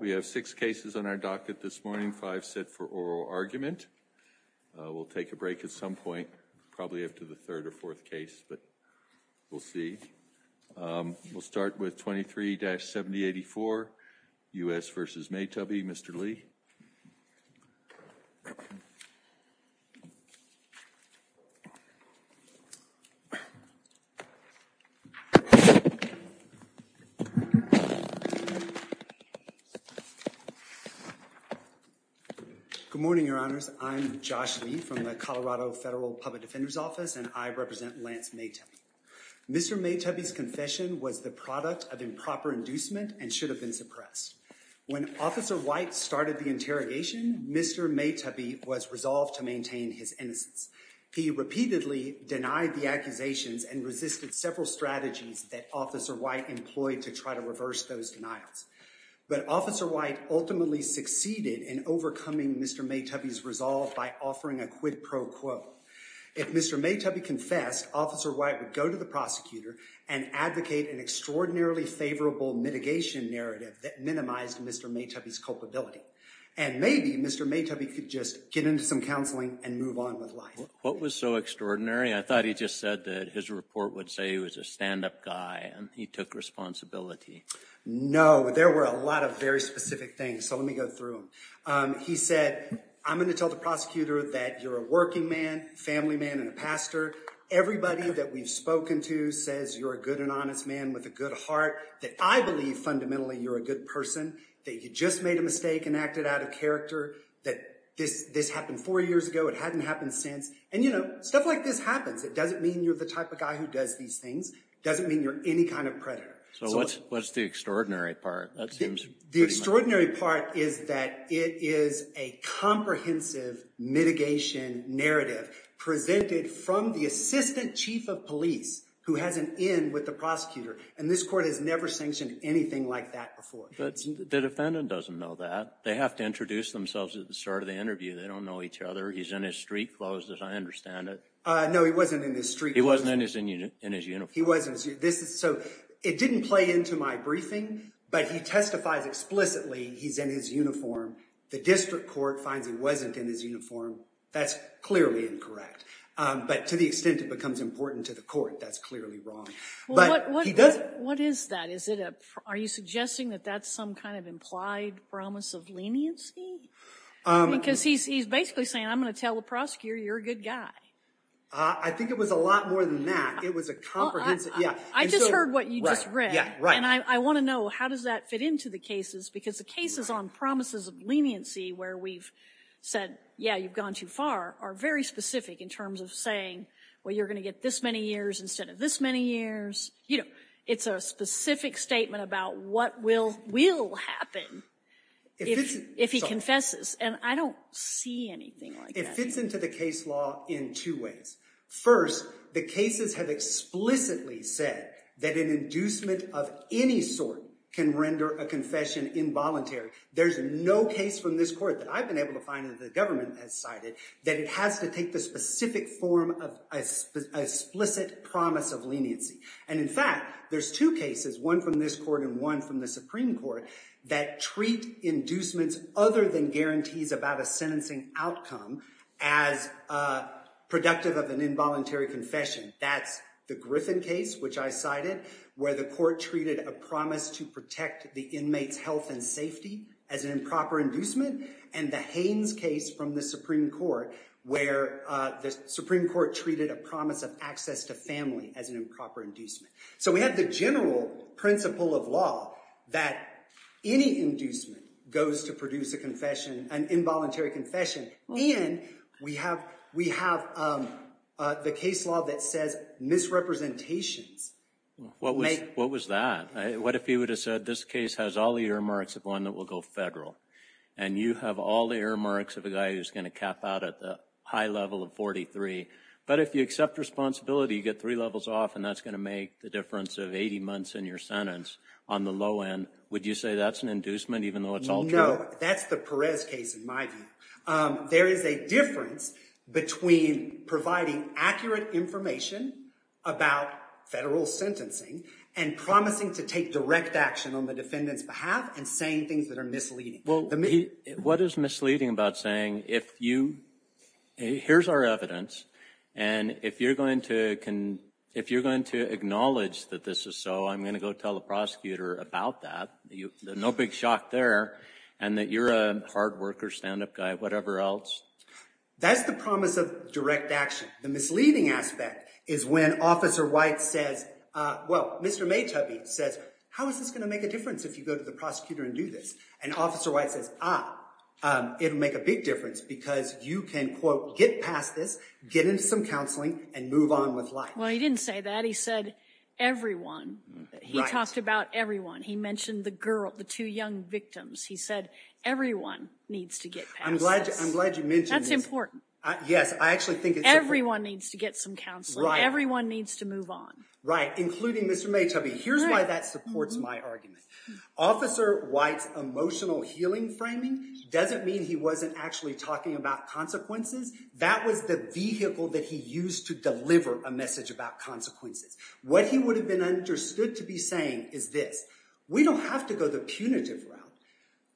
We have six cases on our docket this morning. Five set for oral argument. We'll take a break at some point, probably after the third or fourth case, but we'll see. We'll start with 23-7084, U.S. v. Maytubby. Mr. Lee. Good morning, your honors. I'm Josh Lee from the Colorado Federal Public Defender's Office, and I represent Lance Maytubby. Mr. Maytubby's of improper inducement and should have been suppressed. When Officer White started the interrogation, Mr. Maytubby was resolved to maintain his innocence. He repeatedly denied the accusations and resisted several strategies that Officer White employed to try to reverse those denials. But Officer White ultimately succeeded in overcoming Mr. Maytubby's resolve by offering a quid pro quo. If Mr. Maytubby confessed, Officer White would go to the prosecutor and advocate an extraordinarily favorable mitigation narrative that minimized Mr. Maytubby's culpability. And maybe Mr. Maytubby could just get into some counseling and move on with life. What was so extraordinary? I thought he just said that his report would say he was a stand-up guy and he took responsibility. No, there were a lot of very specific things, so let me go through them. He said, I'm going to tell the prosecutor that you're a working man, a family man, and a pastor. Everybody that we've spoken to says you're a good and honest man with a good heart, that I believe fundamentally you're a good person, that you just made a mistake and acted out of character, that this happened four years ago, it hadn't happened since. And, you know, stuff like this happens. It doesn't mean you're the type of guy who does these things. It doesn't mean you're any kind of predator. So what's the extraordinary part? The extraordinary part is that it is a comprehensive mitigation narrative presented from the assistant chief of police, who has an in with the prosecutor. And this court has never sanctioned anything like that before. The defendant doesn't know that. They have to introduce themselves at the start of the interview. They don't know each other. He's in his street clothes, as I understand it. No, he wasn't in his street clothes. He wasn't in his uniform. He wasn't. So it didn't play into my briefing, but he testifies explicitly he's in his uniform. The district court finds he wasn't in his uniform. That's clearly incorrect. But to the extent it becomes important to the court, that's clearly wrong. But what is that? Are you suggesting that that's some kind of implied promise of leniency? Because he's basically saying, I'm going to tell the prosecutor you're a good guy. I think it was a lot more than that. It was a comprehensive. I just heard what you just read. And I want to know, how does that fit into the cases? Because the cases on promises of leniency where we've said, yeah, you've gone too far, are very specific in terms of saying, well, you're going to get this many years instead of this many years. You know, it's a specific statement about what will happen if he confesses. And I don't see anything like that. It fits into the case law in two ways. First, the cases have explicitly said that an inducement of any sort can render a confession involuntary. There's no case from this court that I've been able to find that the government has cited that it has to take the specific form of explicit promise of leniency. And in fact, there's two cases, one from this court and one from the Supreme Court, that treat inducements other than guarantees about a sentencing outcome as productive of an involuntary confession. That's the Griffin case, which I cited, where the court treated a promise to protect the inmate's health and safety as an improper inducement. And the Haynes case from the Supreme Court, where the Supreme Court treated a promise of access to family as an improper inducement. So we have the general principle of law that any inducement goes to produce a confession, an involuntary confession. And we have the case law that says misrepresentations. What was that? What if he would have said, this case has all the earmarks of one that will go federal. And you have all the earmarks of a guy who's going to cap out at the high level of 43. But if you accept responsibility, you get three levels off, and that's going to make the difference of 80 months in your sentence on the low end. Would you say that's an inducement, even though it's all true? No, that's the Perez case in my view. There is a difference between providing accurate information about federal sentencing and promising to take direct action on the defendant's behalf and saying things that are misleading. What is misleading about saying, here's our evidence, and if you're going to acknowledge that this is so, I'm going to go tell the prosecutor about that, no big shock there, and that you're a hard worker, stand-up guy, whatever else? That's the promise of direct action. The misleading aspect is when Officer White says, well, Mr. Maytubey says, how is this going to make a difference if you go to the prosecutor and do this? And Officer White says, ah, it'll make a big difference because you can, quote, get past this, get into some counseling, and move on with life. Well, he didn't say that. He said everyone. He talked about everyone. He mentioned the girl, the two young victims. He said everyone needs to get past this. I'm glad you mentioned this. That's important. Yes, I actually think it's important. Everyone needs to get some counseling. Everyone needs to move on. Right, including Mr. Maytubey. Here's why that supports my argument. Officer White's emotional healing framing doesn't mean he wasn't actually talking about consequences. That was the vehicle that he used to deliver a message about consequences. What he would have been understood to be saying is this. We don't have to go the punitive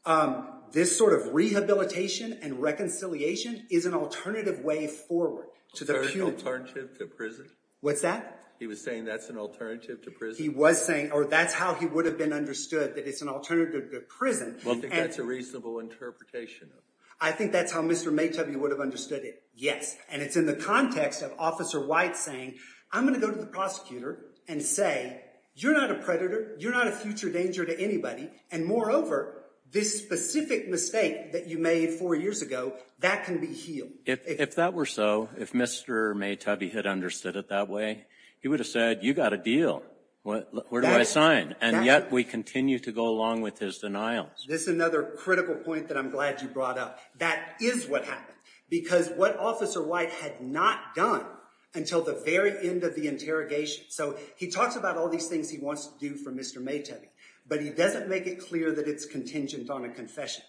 route. This sort of rehabilitation and reconciliation is an alternative way forward to the punitive. Alternative to prison? What's that? He was saying that's an alternative to prison? He was saying, or that's how he would have been understood, that it's an alternative to prison. Well, I think that's a reasonable interpretation. I think that's how Mr. Maytubey would have understood it. Yes. And it's in the context of Officer White saying, I'm going to go to the prosecutor and say, you're not a predator. You're not a future danger to anybody. And moreover, this specific mistake that you made four years ago, that can be healed. If that were so, if Mr. Maytubey had understood it that way, he would have said, you got a deal. Where do I sign? And yet we continue to go along with his denials. This is another critical point that I'm glad you brought up. That is what happened. Because what Officer White had not done until the very end of the interrogation. So he talks about all these things he wants to do for Mr. Maytubey, but he doesn't make it clear that it's contingent on a confession.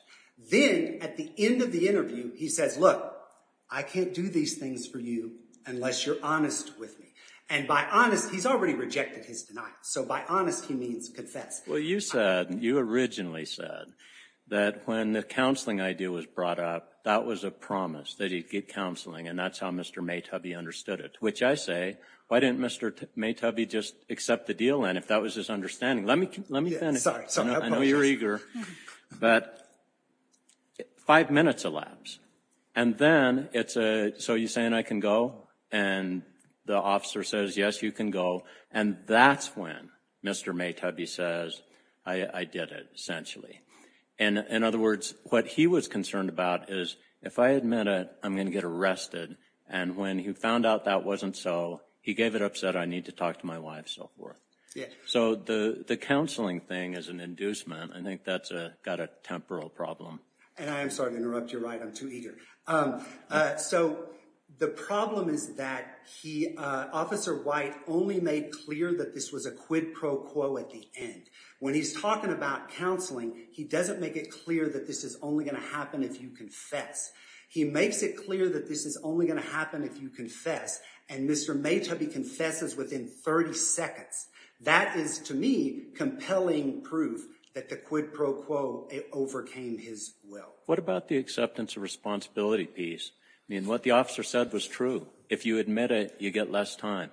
Then at the end of the interview, he says, look, I can't do these things for you unless you're honest with me. And by honest, he's already rejected his denial. So by honest, he means confess. Well, you said, you originally said that when the counseling idea was brought up, that was a promise that he'd get counseling. And that's how Mr. Maytubey understood it. Which I say, why didn't Mr. Maytubey just accept the deal? And if that was his understanding, let me let me finish. I know you're eager, but five minutes elapsed. And then it's a so you're saying I can go and the officer says, yes, you can go. And that's when Mr. Maytubey says, I did it essentially. And in other words, what he was concerned about is if I admit it, I'm going to get arrested. And when he found out that wasn't so, he gave it up, said, I need to talk to my wife, so forth. So the the counseling thing is an inducement. I think that's got a temporal problem. And I'm sorry to interrupt you. Right. I'm too eager. So the problem is that he officer White only made clear that this was a quid pro quo at the end. When he's talking about counseling, he doesn't make it clear that this is only going to happen if you confess. He makes it clear that this is only going to happen if you confess. And Mr. Maytubey confesses within 30 seconds. That is, to me, compelling proof that the quid pro quo overcame his will. What about the acceptance of responsibility piece? I mean, what the officer said was true. If you admit it, you get less time.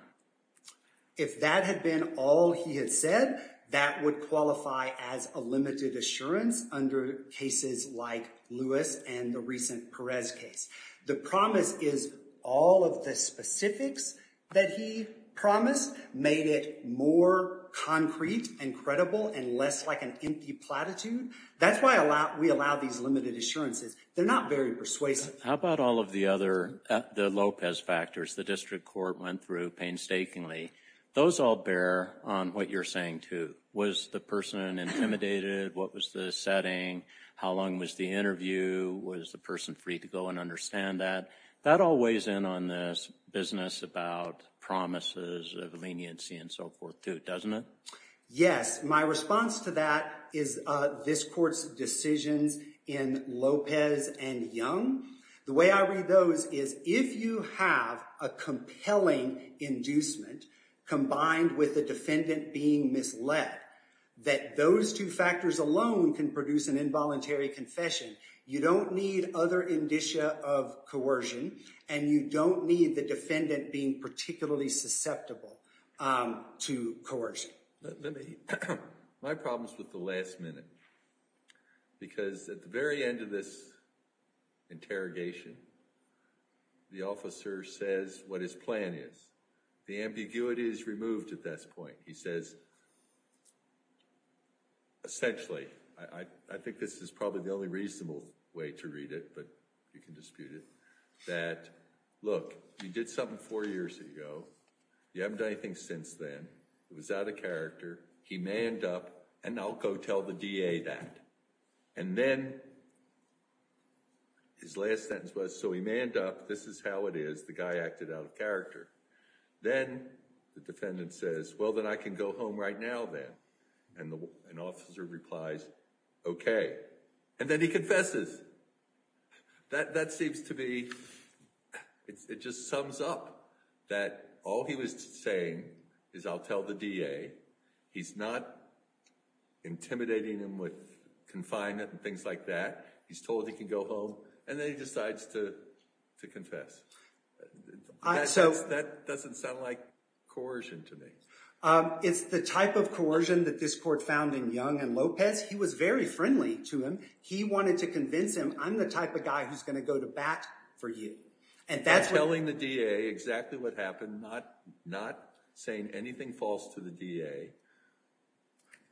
If that had been all he had said, that would qualify as a limited assurance under cases like Lewis and the recent Perez case. The promise is all of the specifics that he promised made it more concrete and credible and less like empty platitude. That's why we allow these limited assurances. They're not very persuasive. How about all of the other Lopez factors the district court went through painstakingly? Those all bear on what you're saying, too. Was the person intimidated? What was the setting? How long was the interview? Was the person free to go and understand that? That all weighs in on this business about promises of leniency and so forth, too, doesn't it? Yes, my response to that is this court's decisions in Lopez and Young. The way I read those is if you have a compelling inducement combined with the defendant being misled, that those two factors alone can produce an involuntary confession. You don't need other indicia of coercion and you don't need the defendant being particularly susceptible to coercion. My problem is with the last minute because at the very end of this interrogation, the officer says what his plan is. The ambiguity is removed at this point. He says essentially, I think this is probably the only reasonable way to read it, but you can dispute it, that, look, you did something four years ago. You haven't done anything since then. It was out of character. He may end up, and I'll go tell the DA that. And then his last sentence was, so he may end up, this is how it is. The guy acted out of character. Then the defendant says, well, then I can go home right now then. And the officer replies, okay. And then he confesses. That seems to be, it just sums up that all he was saying is I'll tell the DA. He's not intimidating him with confinement and things like that. He's told he can go home and then he decides to confess. That doesn't sound like coercion to me. It's the type of coercion that this court found in Young and Lopez. He was very friendly to him. He wanted to convince him, I'm the type of guy who's going to go to bat for you. I'm telling the DA exactly what happened, not saying anything false to the DA,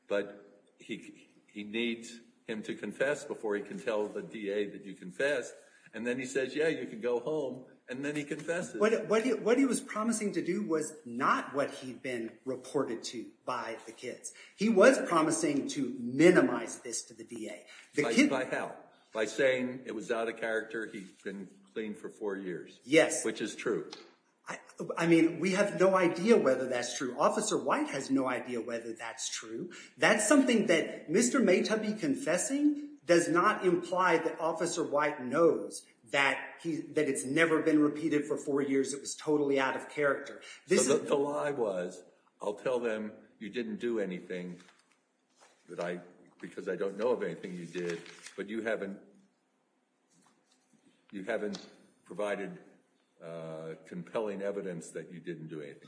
but he needs him to confess before he can tell the DA that you confess. And then he says, yeah, you can go home. And then he confesses. What he was promising to was not what he'd been reported to by the kids. He was promising to minimize this to the DA. By how? By saying it was out of character. He'd been clean for four years. Yes. Which is true. I mean, we have no idea whether that's true. Officer White has no idea whether that's true. That's something that Mr. Maytabi confessing does not imply that Officer White knows that it's never been repeated for four years. It was totally out of character. The lie was, I'll tell them you didn't do anything because I don't know of anything you did, but you haven't provided compelling evidence that you didn't do anything.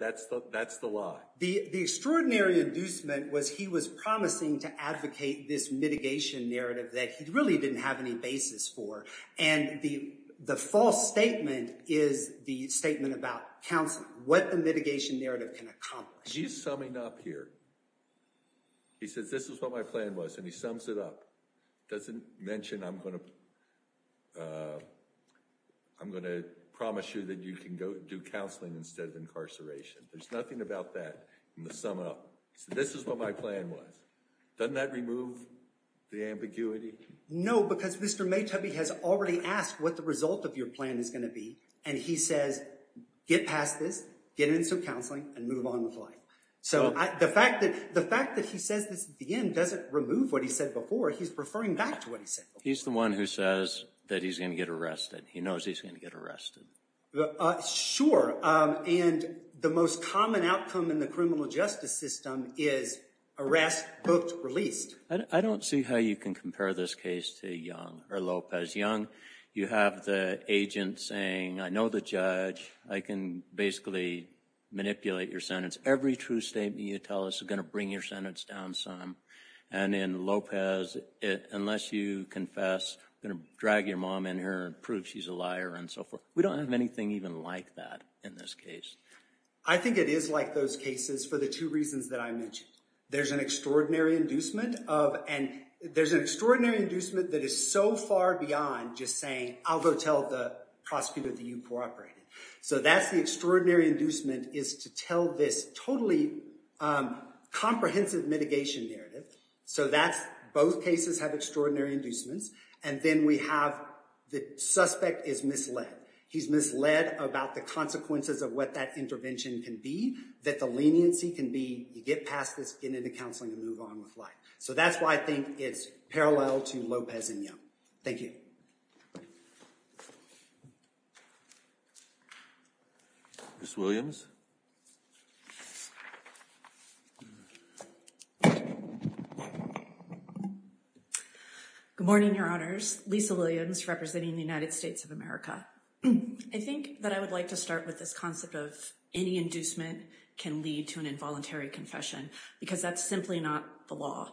That's the lie. The extraordinary inducement was he was promising to advocate this mitigation narrative that he really didn't have any basis for. And the false statement is the statement about counseling, what the mitigation narrative can accomplish. He's summing up here. He says, this is what my plan was, and he sums it up. Doesn't mention I'm going to promise you that you can go do counseling instead of incarceration. There's nothing about that in the sum up. This is what my plan was. Doesn't that remove the ambiguity? No, because Mr. Maytabi has already asked what the result of your plan is going to be, and he says, get past this, get into counseling, and move on with life. So the fact that he says this at the end doesn't remove what he said before, he's referring back to what he said before. He's the one who says that he's going to get arrested. He knows he's going to get arrested. Sure. And the most common outcome in the is arrest, booked, released. I don't see how you can compare this case to Young or Lopez. Young, you have the agent saying, I know the judge, I can basically manipulate your sentence. Every true statement you tell us is going to bring your sentence down some. And in Lopez, unless you confess, you're going to drag your mom in here and prove she's a liar and so forth. We don't have anything even like that in this case. I think it is like those cases for the two reasons that I mentioned. There's an extraordinary inducement of, and there's an extraordinary inducement that is so far beyond just saying, I'll go tell the prosecutor that you cooperated. So that's the extraordinary inducement is to tell this totally comprehensive mitigation narrative. So that's, both cases have extraordinary inducements. And then we have the suspect is misled. He's misled about the consequences of what that intervention can be, that the leniency can be you get past this, get into counseling and move on with life. So that's why I think it's parallel to Lopez and Young. Thank you. Ms. Williams. Good morning, your honors. Lisa Williams, representing the United States of America. I think that I would like to start with this concept of any inducement can lead to an indirect confession, because that's simply not the law.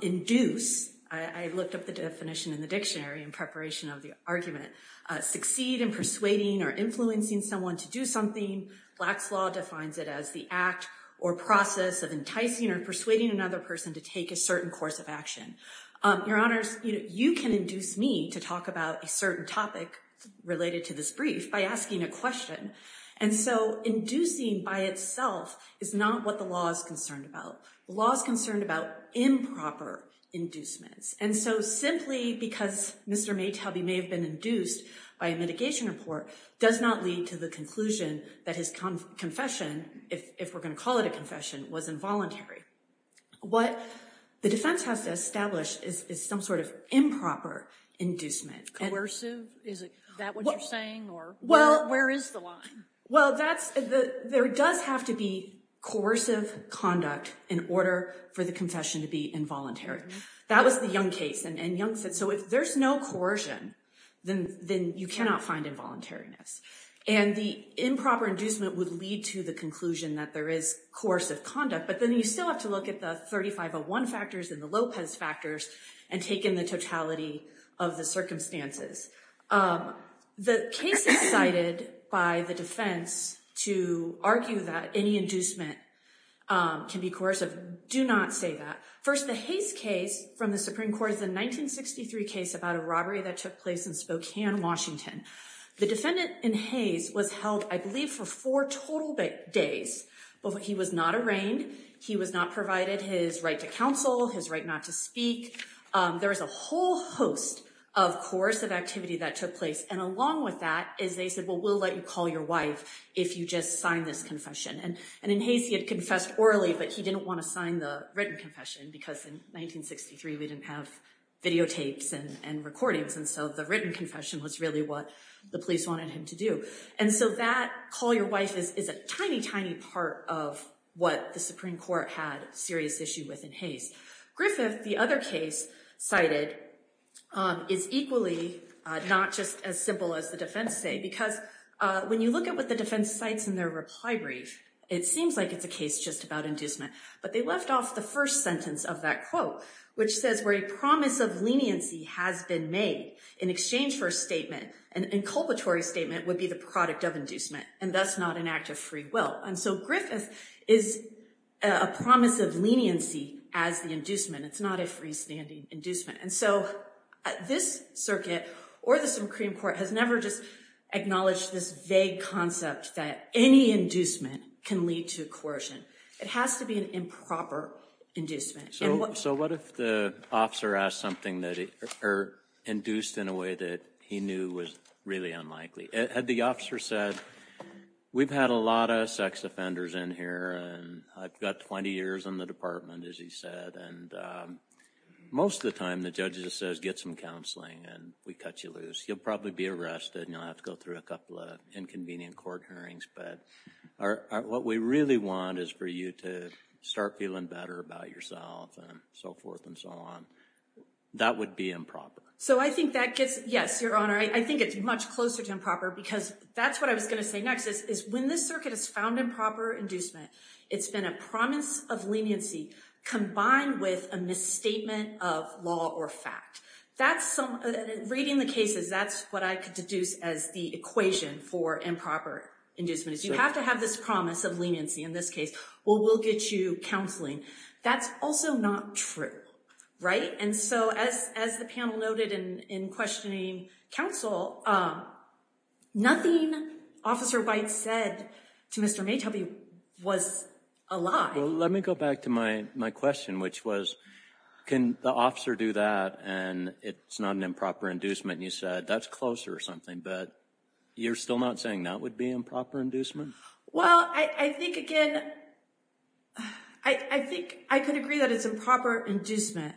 Induce, I looked up the definition in the dictionary in preparation of the argument. Succeed in persuading or influencing someone to do something. Black's law defines it as the act or process of enticing or persuading another person to take a certain course of action. Your honors, you can induce me to talk about a certain topic related to this brief by asking a question. And so inducing by itself is not what the law is concerned about. The law is concerned about improper inducements. And so simply because Mr. Maytelby may have been induced by a mitigation report does not lead to the conclusion that his confession, if we're going to call it a confession, was involuntary. What the defense has to establish is some sort of improper inducement. Coercive? Is that what you're saying? Or where is the line? Well, there does have to be coercive conduct in order for the confession to be involuntary. That was the Young case. And Young said, so if there's no coercion, then you cannot find involuntariness. And the improper inducement would lead to the conclusion that there is coercive conduct. But then you still have to look at the 3501 factors and the Lopez factors and take in the totality of the circumstances. The case is cited by the defense to argue that any inducement can be coercive. Do not say that. First, the Hayes case from the Supreme Court is a 1963 case about a robbery that took place in Spokane, Washington. The defendant in Hayes was held, I believe, for four total days. But he was not arraigned. He was not provided his right to counsel, his right not to speak. There was a whole host of coercive activity that took place. And along with that is they said, well, we'll let you call your wife if you just sign this confession. And in Hayes, he had confessed orally, but he didn't want to sign the written confession because in 1963, we didn't have videotapes and recordings. And so the written confession was really what the police wanted him to do. And so that call your wife is a tiny, tiny part of what the Supreme Court had serious issue with in Hayes. Griffith, the other case cited, is equally not just as simple as the defense say, because when you look at what the defense cites in their reply brief, it seems like it's a case just about inducement. But they left off the first sentence of that quote, which says, where a promise of leniency has been made in exchange for a statement, an inculpatory statement would be the product of inducement and thus not an act of free will. And so Griffith is a promise of leniency as the inducement. It's not a freestanding inducement. And so this circuit or the Supreme Court has never just acknowledged this vague concept that any inducement can lead to coercion. It has to be an improper inducement. So what if the officer asked something that are induced in a way that he knew was really unlikely? Had the officer said, we've had a lot of sex offenders in here and I've got 20 years in the department, as he said, and most of the time the judge just says, get some counseling and we cut you loose. You'll probably be arrested and you'll have to go through a couple of inconvenient court hearings. But what we really want is for you to start feeling better about yourself and so forth and so on. That would be improper. So I think that gets, yes, Your Honor, I think it's much closer to improper because that's what I was going to say next is when this circuit is found improper inducement, it's been a promise of leniency combined with a misstatement of law or fact. Reading the cases, that's what I could deduce as the equation for improper inducement is you have to have this promise of leniency. In this case, we'll get you counseling. That's also not true, right? And so as the panel noted in questioning counsel, nothing Officer White said to Mr. Maytubby was a lie. Well, let me go back to my question, which was, can the officer do that and it's not an improper inducement? You said that's closer or something, but you're still not saying that would be improper inducement? Well, I think, again, I think I could agree that it's improper inducement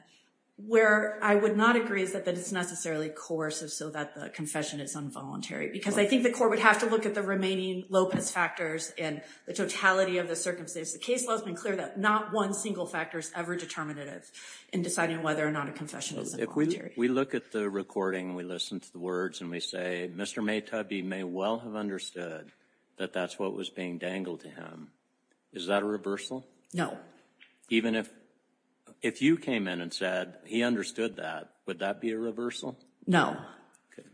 where I would not agree that it's necessarily coercive so that the confession is involuntary because I think the court would have to look at the remaining Lopez factors and the totality of the circumstances. The case law has been clear that not one single factor is ever determinative in deciding whether or not a confession is involuntary. If we look at the recording, we listen to the words and we say, Mr. Maytubby may well have understood that that's what was being dangled to him. Is that a reversal? No. Even if, if you came in and said he understood that, would that be a reversal? No. Okay.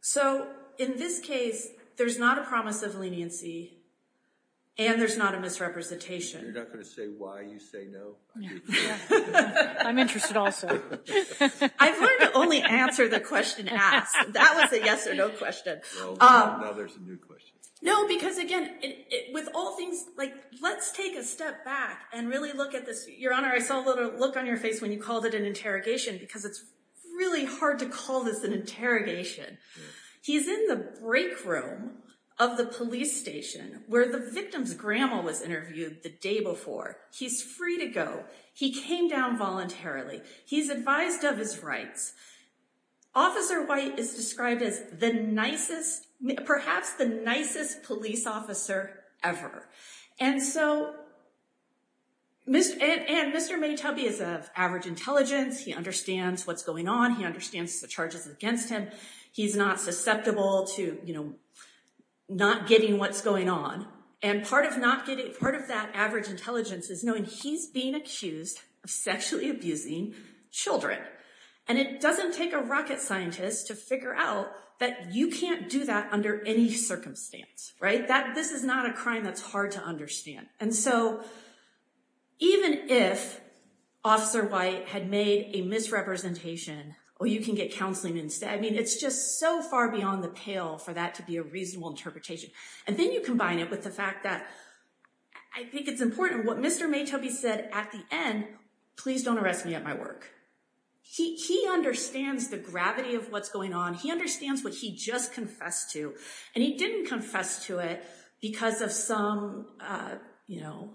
So in this case, there's not a promise of leniency and there's not a misrepresentation. You're not going to say why you say no? Yeah. I'm interested also. I've learned to only answer the question asked. That was a yes or no question. Now there's a new question. No, because again, with all things, like let's take a step back and really look at this. Your Honor, I saw a little look on your face when you called it an interrogation because it's really hard to call this an interrogation. He's in the break room of the police station where the victim's grandma was interviewed the day before. He's free to go. He came down voluntarily. He's advised of his rights. Officer White is described as the nicest, perhaps the nicest police officer ever. And so, and Mr. Maytubby is of average intelligence. He understands what's going on. He understands the charges against him. He's not susceptible to, you know, not getting what's going on. And part of not getting, part of that average intelligence is knowing he's being accused of sexually abusing children. And it doesn't take a rocket scientist to figure out that you can't do that under any circumstance, right? This is not a crime that's hard to understand. And so even if Officer White had made a misrepresentation or you can get counseling instead, I mean, it's just so far beyond the pale for that to be a reasonable interpretation. And then you combine it with the fact that I think it's important what Mr. Maytubby said at the end, please don't arrest me at my work. He understands the gravity of what's going on. He understands what he just confessed to. And he didn't confess to it because of some, you know,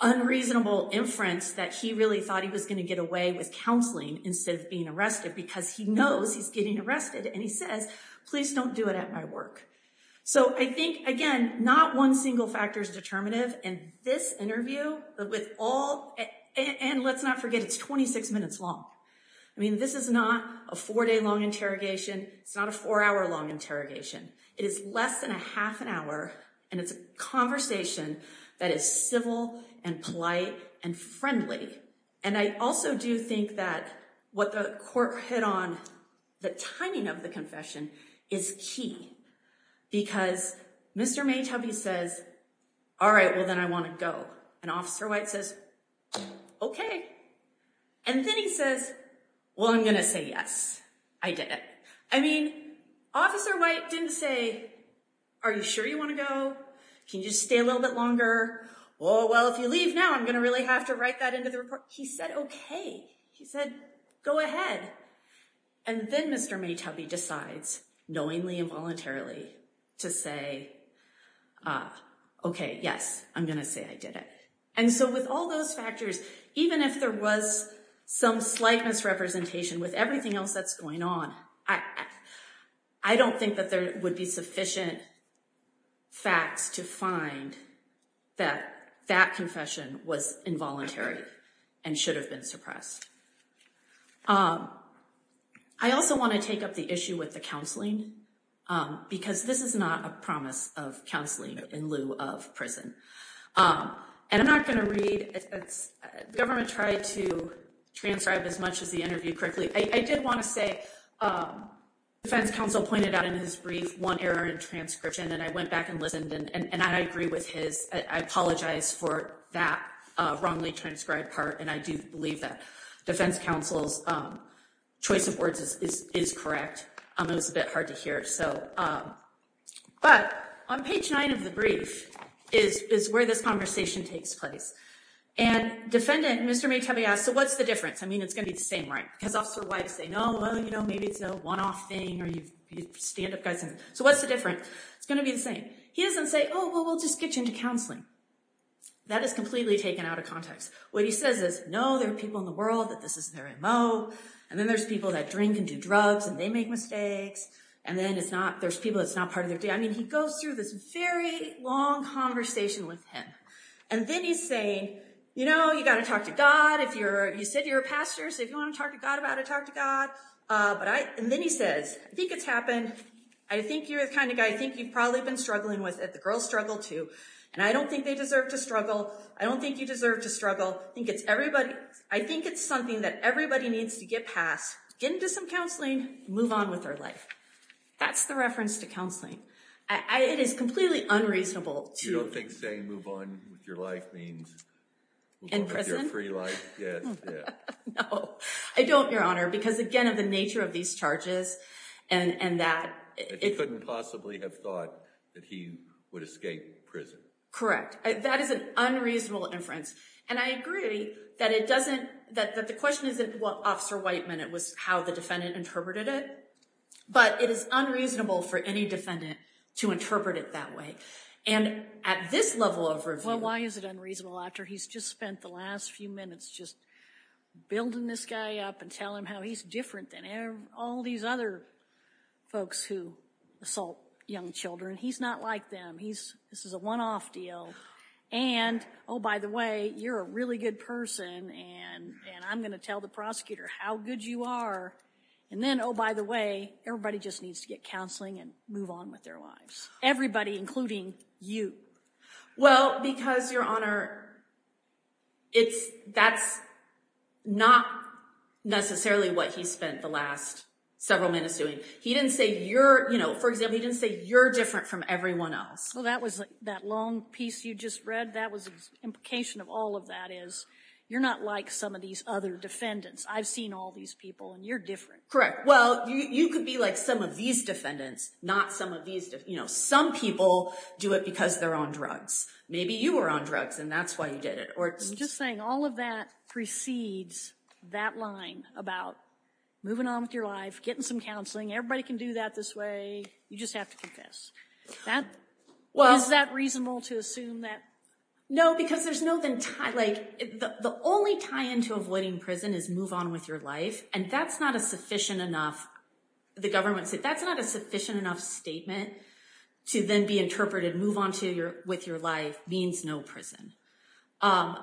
unreasonable inference that he really thought he was going to get away with counseling instead of being arrested because he knows he's getting arrested. And he says, please don't do it at my work. So I think, again, not one single factor is determinative in this interview, but with all, and let's not forget it's 26 minutes long. I mean, this is not a four day long interrogation. It's not a four hour long interrogation. It is less than a half an hour. And it's a conversation that is civil and polite and friendly. And I also do think that what the court hit on, the timing of the confession is key because Mr. Maytubby says, all right, well, then I want to go. And Officer White says, okay. And then he says, well, I'm going to say, yes, I did it. I mean, Officer White didn't say, are you sure you want to go? Can you just stay a little bit longer? Oh, well, if you leave now, I'm going to really have to write that into the report. He said, okay. He said, go ahead. And then Mr. Maytubby decides knowingly and voluntarily to say, okay, yes, I'm going to say I did it. And so with all those factors, even if there was some slight misrepresentation with everything else that's going on, I don't think that there would be sufficient facts to find that that confession was involuntary and should have been suppressed. I also want to take up the issue with the counseling because this is not a promise of counseling in lieu of prison. And I'm not going to read. Government tried to transcribe as much as the interview quickly. I did want to say defense counsel pointed out in his brief, one error in transcription. And I went back and listened and I agree with his, I apologize for that wrongly transcribed part. And I do believe that defense counsel's choice of words is correct. It was a bit hard to hear. So, but on page nine of the brief is where this conversation takes place. And defendant, Mr. Maytubby asked, so what's the difference? I mean, it's going to be the same, right? Because they know, well, you know, maybe it's a one-off thing or you stand up guys. So what's the different? It's going to be the same. He doesn't say, oh, well, we'll just get you into counseling. That is completely taken out of context. What he says is, no, there are people in the world that this is their MO. And then there's people that drink and do drugs and they make mistakes. And then it's not, there's people that's not part of their day. I mean, he goes through this very long conversation with him. And then he's saying, you know, you got to talk to God. If you're, you said you're a pastor. So if you want to talk to God about it, talk to God. But I, and then he says, I think it's happened. I think you're the kind of guy, I think you've probably been struggling with it. The girls struggle too. And I don't think they deserve to struggle. I don't think you deserve to struggle. I think it's everybody. I think it's something that everybody needs to get past, get into some counseling, move on with their life. That's the reference to counseling. I, it is completely unreasonable. You don't think saying move on with your life means move on with your free life? In prison? Yeah. No, I don't, Your Honor, because again of the nature of these charges and, and that. That he couldn't possibly have thought that he would escape prison. Correct. That is an unreasonable inference. And I agree that it doesn't, that, that the question isn't what Officer Whiteman, it was how the defendant interpreted it. But it is unreasonable for any defendant to interpret it that way. And at this level of review. Well, why is it unreasonable after he's just spent the last few minutes just building this guy up and telling him how he's different than all these other folks who assault young children. He's not like them. He's, this is a one-off deal. And, oh, by the way, you're a really good person. And, and I'm going to tell the prosecutor how good you are. And then, oh, by the way, everybody just needs to get counseling and move on with their lives. Everybody, including you. Well, because, Your Honor, it's, that's not necessarily what he spent the last several minutes doing. He didn't say you're, you know, for example, he didn't say you're different from everyone else. Well, that was that long piece you just read. That was the implication of all of that is you're not like some of these other defendants. I've seen all these people and you're different. Correct. Well, you could be like some of these defendants, not some of these, you know, some people do it because they're on drugs. Maybe you were on drugs and that's why you did it. Or just saying all of that precedes that line about moving on with your life, getting some counseling. Everybody can do that this way. You just have to confess that. Well, is that reasonable to assume that? No, because there's no then like the only tie into avoiding prison is move on with your life. And that's not a sufficient enough, the government said that's not a sufficient enough statement to then be interpreted move on to your with your life means no prison. I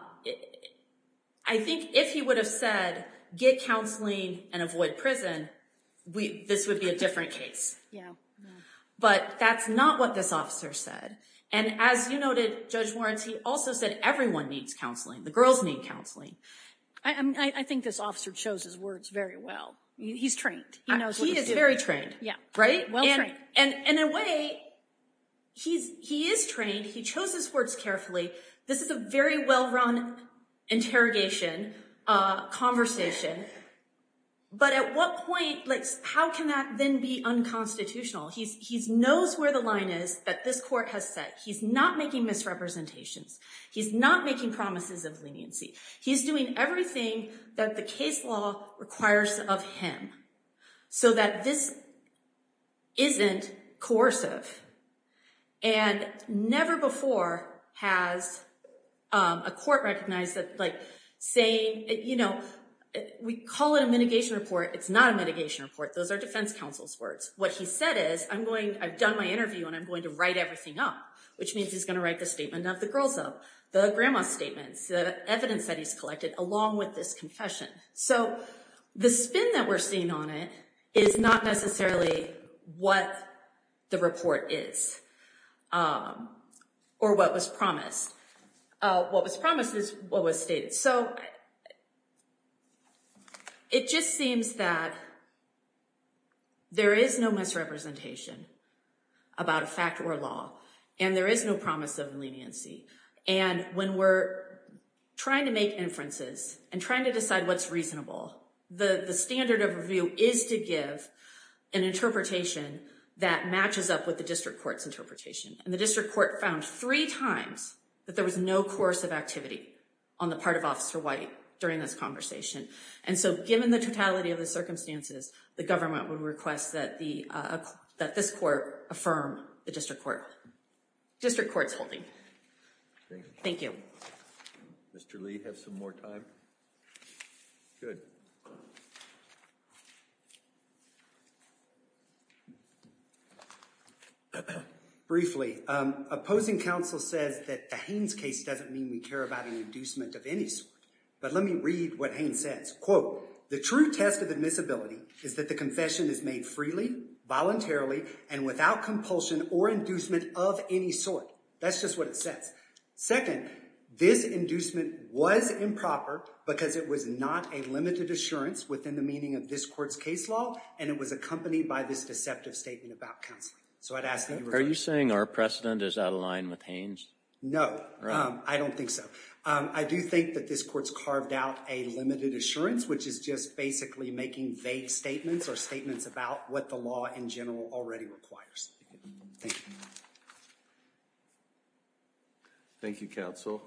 think if he would have said get counseling and avoid prison, this would be a different case. Yeah. But that's not what this officer said. And as you noted, Judge Warren, he also said everyone needs counseling. The girls need counseling. I think this officer chose his very well. He's trained. He is very trained. Yeah. Right. And in a way, he's he is trained. He chose his words carefully. This is a very well run interrogation conversation. But at what point like how can that then be unconstitutional? He's he's knows where the line is that this court has set. He's not making misrepresentations. He's not making promises of leniency. He's doing everything that the case law requires of him so that this isn't coercive. And never before has a court recognized that like saying, you know, we call it a mitigation report. It's not a mitigation report. Those are defense counsel's words. What he said is I'm going I've done my interview and I'm going to write everything up, which means he's going to write the statement of the girls of the grandma statements, the evidence that he's collected, along with this confession. So the spin that we're seeing on it is not necessarily what the report is or what was promised. What was promised is what was stated. So it just seems that there is no misrepresentation about a fact or law and there is no promise of leniency. And when we're trying to make inferences and trying to decide what's reasonable, the standard of review is to give an interpretation that matches up with the district court's interpretation. And the district court found three times that there was no coercive activity on the part of Officer White during this conversation. And so given the totality of the circumstances, the government would request that the that this court affirm the district court district court's holding. Thank you. Mr. Lee, have some more time. Good. Briefly, opposing counsel says that the Haynes case doesn't mean we care about an inducement of any sort. But let me read what Haynes says. Quote, the true test of admissibility is that the confession is made freely, voluntarily and without compulsion or inducement of any sort. That's just what it says. Second, this inducement was improper because it was not a limited assurance within the meaning of this court's case law. And it was accompanied by this deceptive statement about counseling. So I'd ask. Are you saying our precedent is out of line with Haynes? No, I don't think so. I do think that this court's carved out a limited assurance, which is just basically making vague statements or statements about what the law in general already requires. Thank you. Thank you, counsel.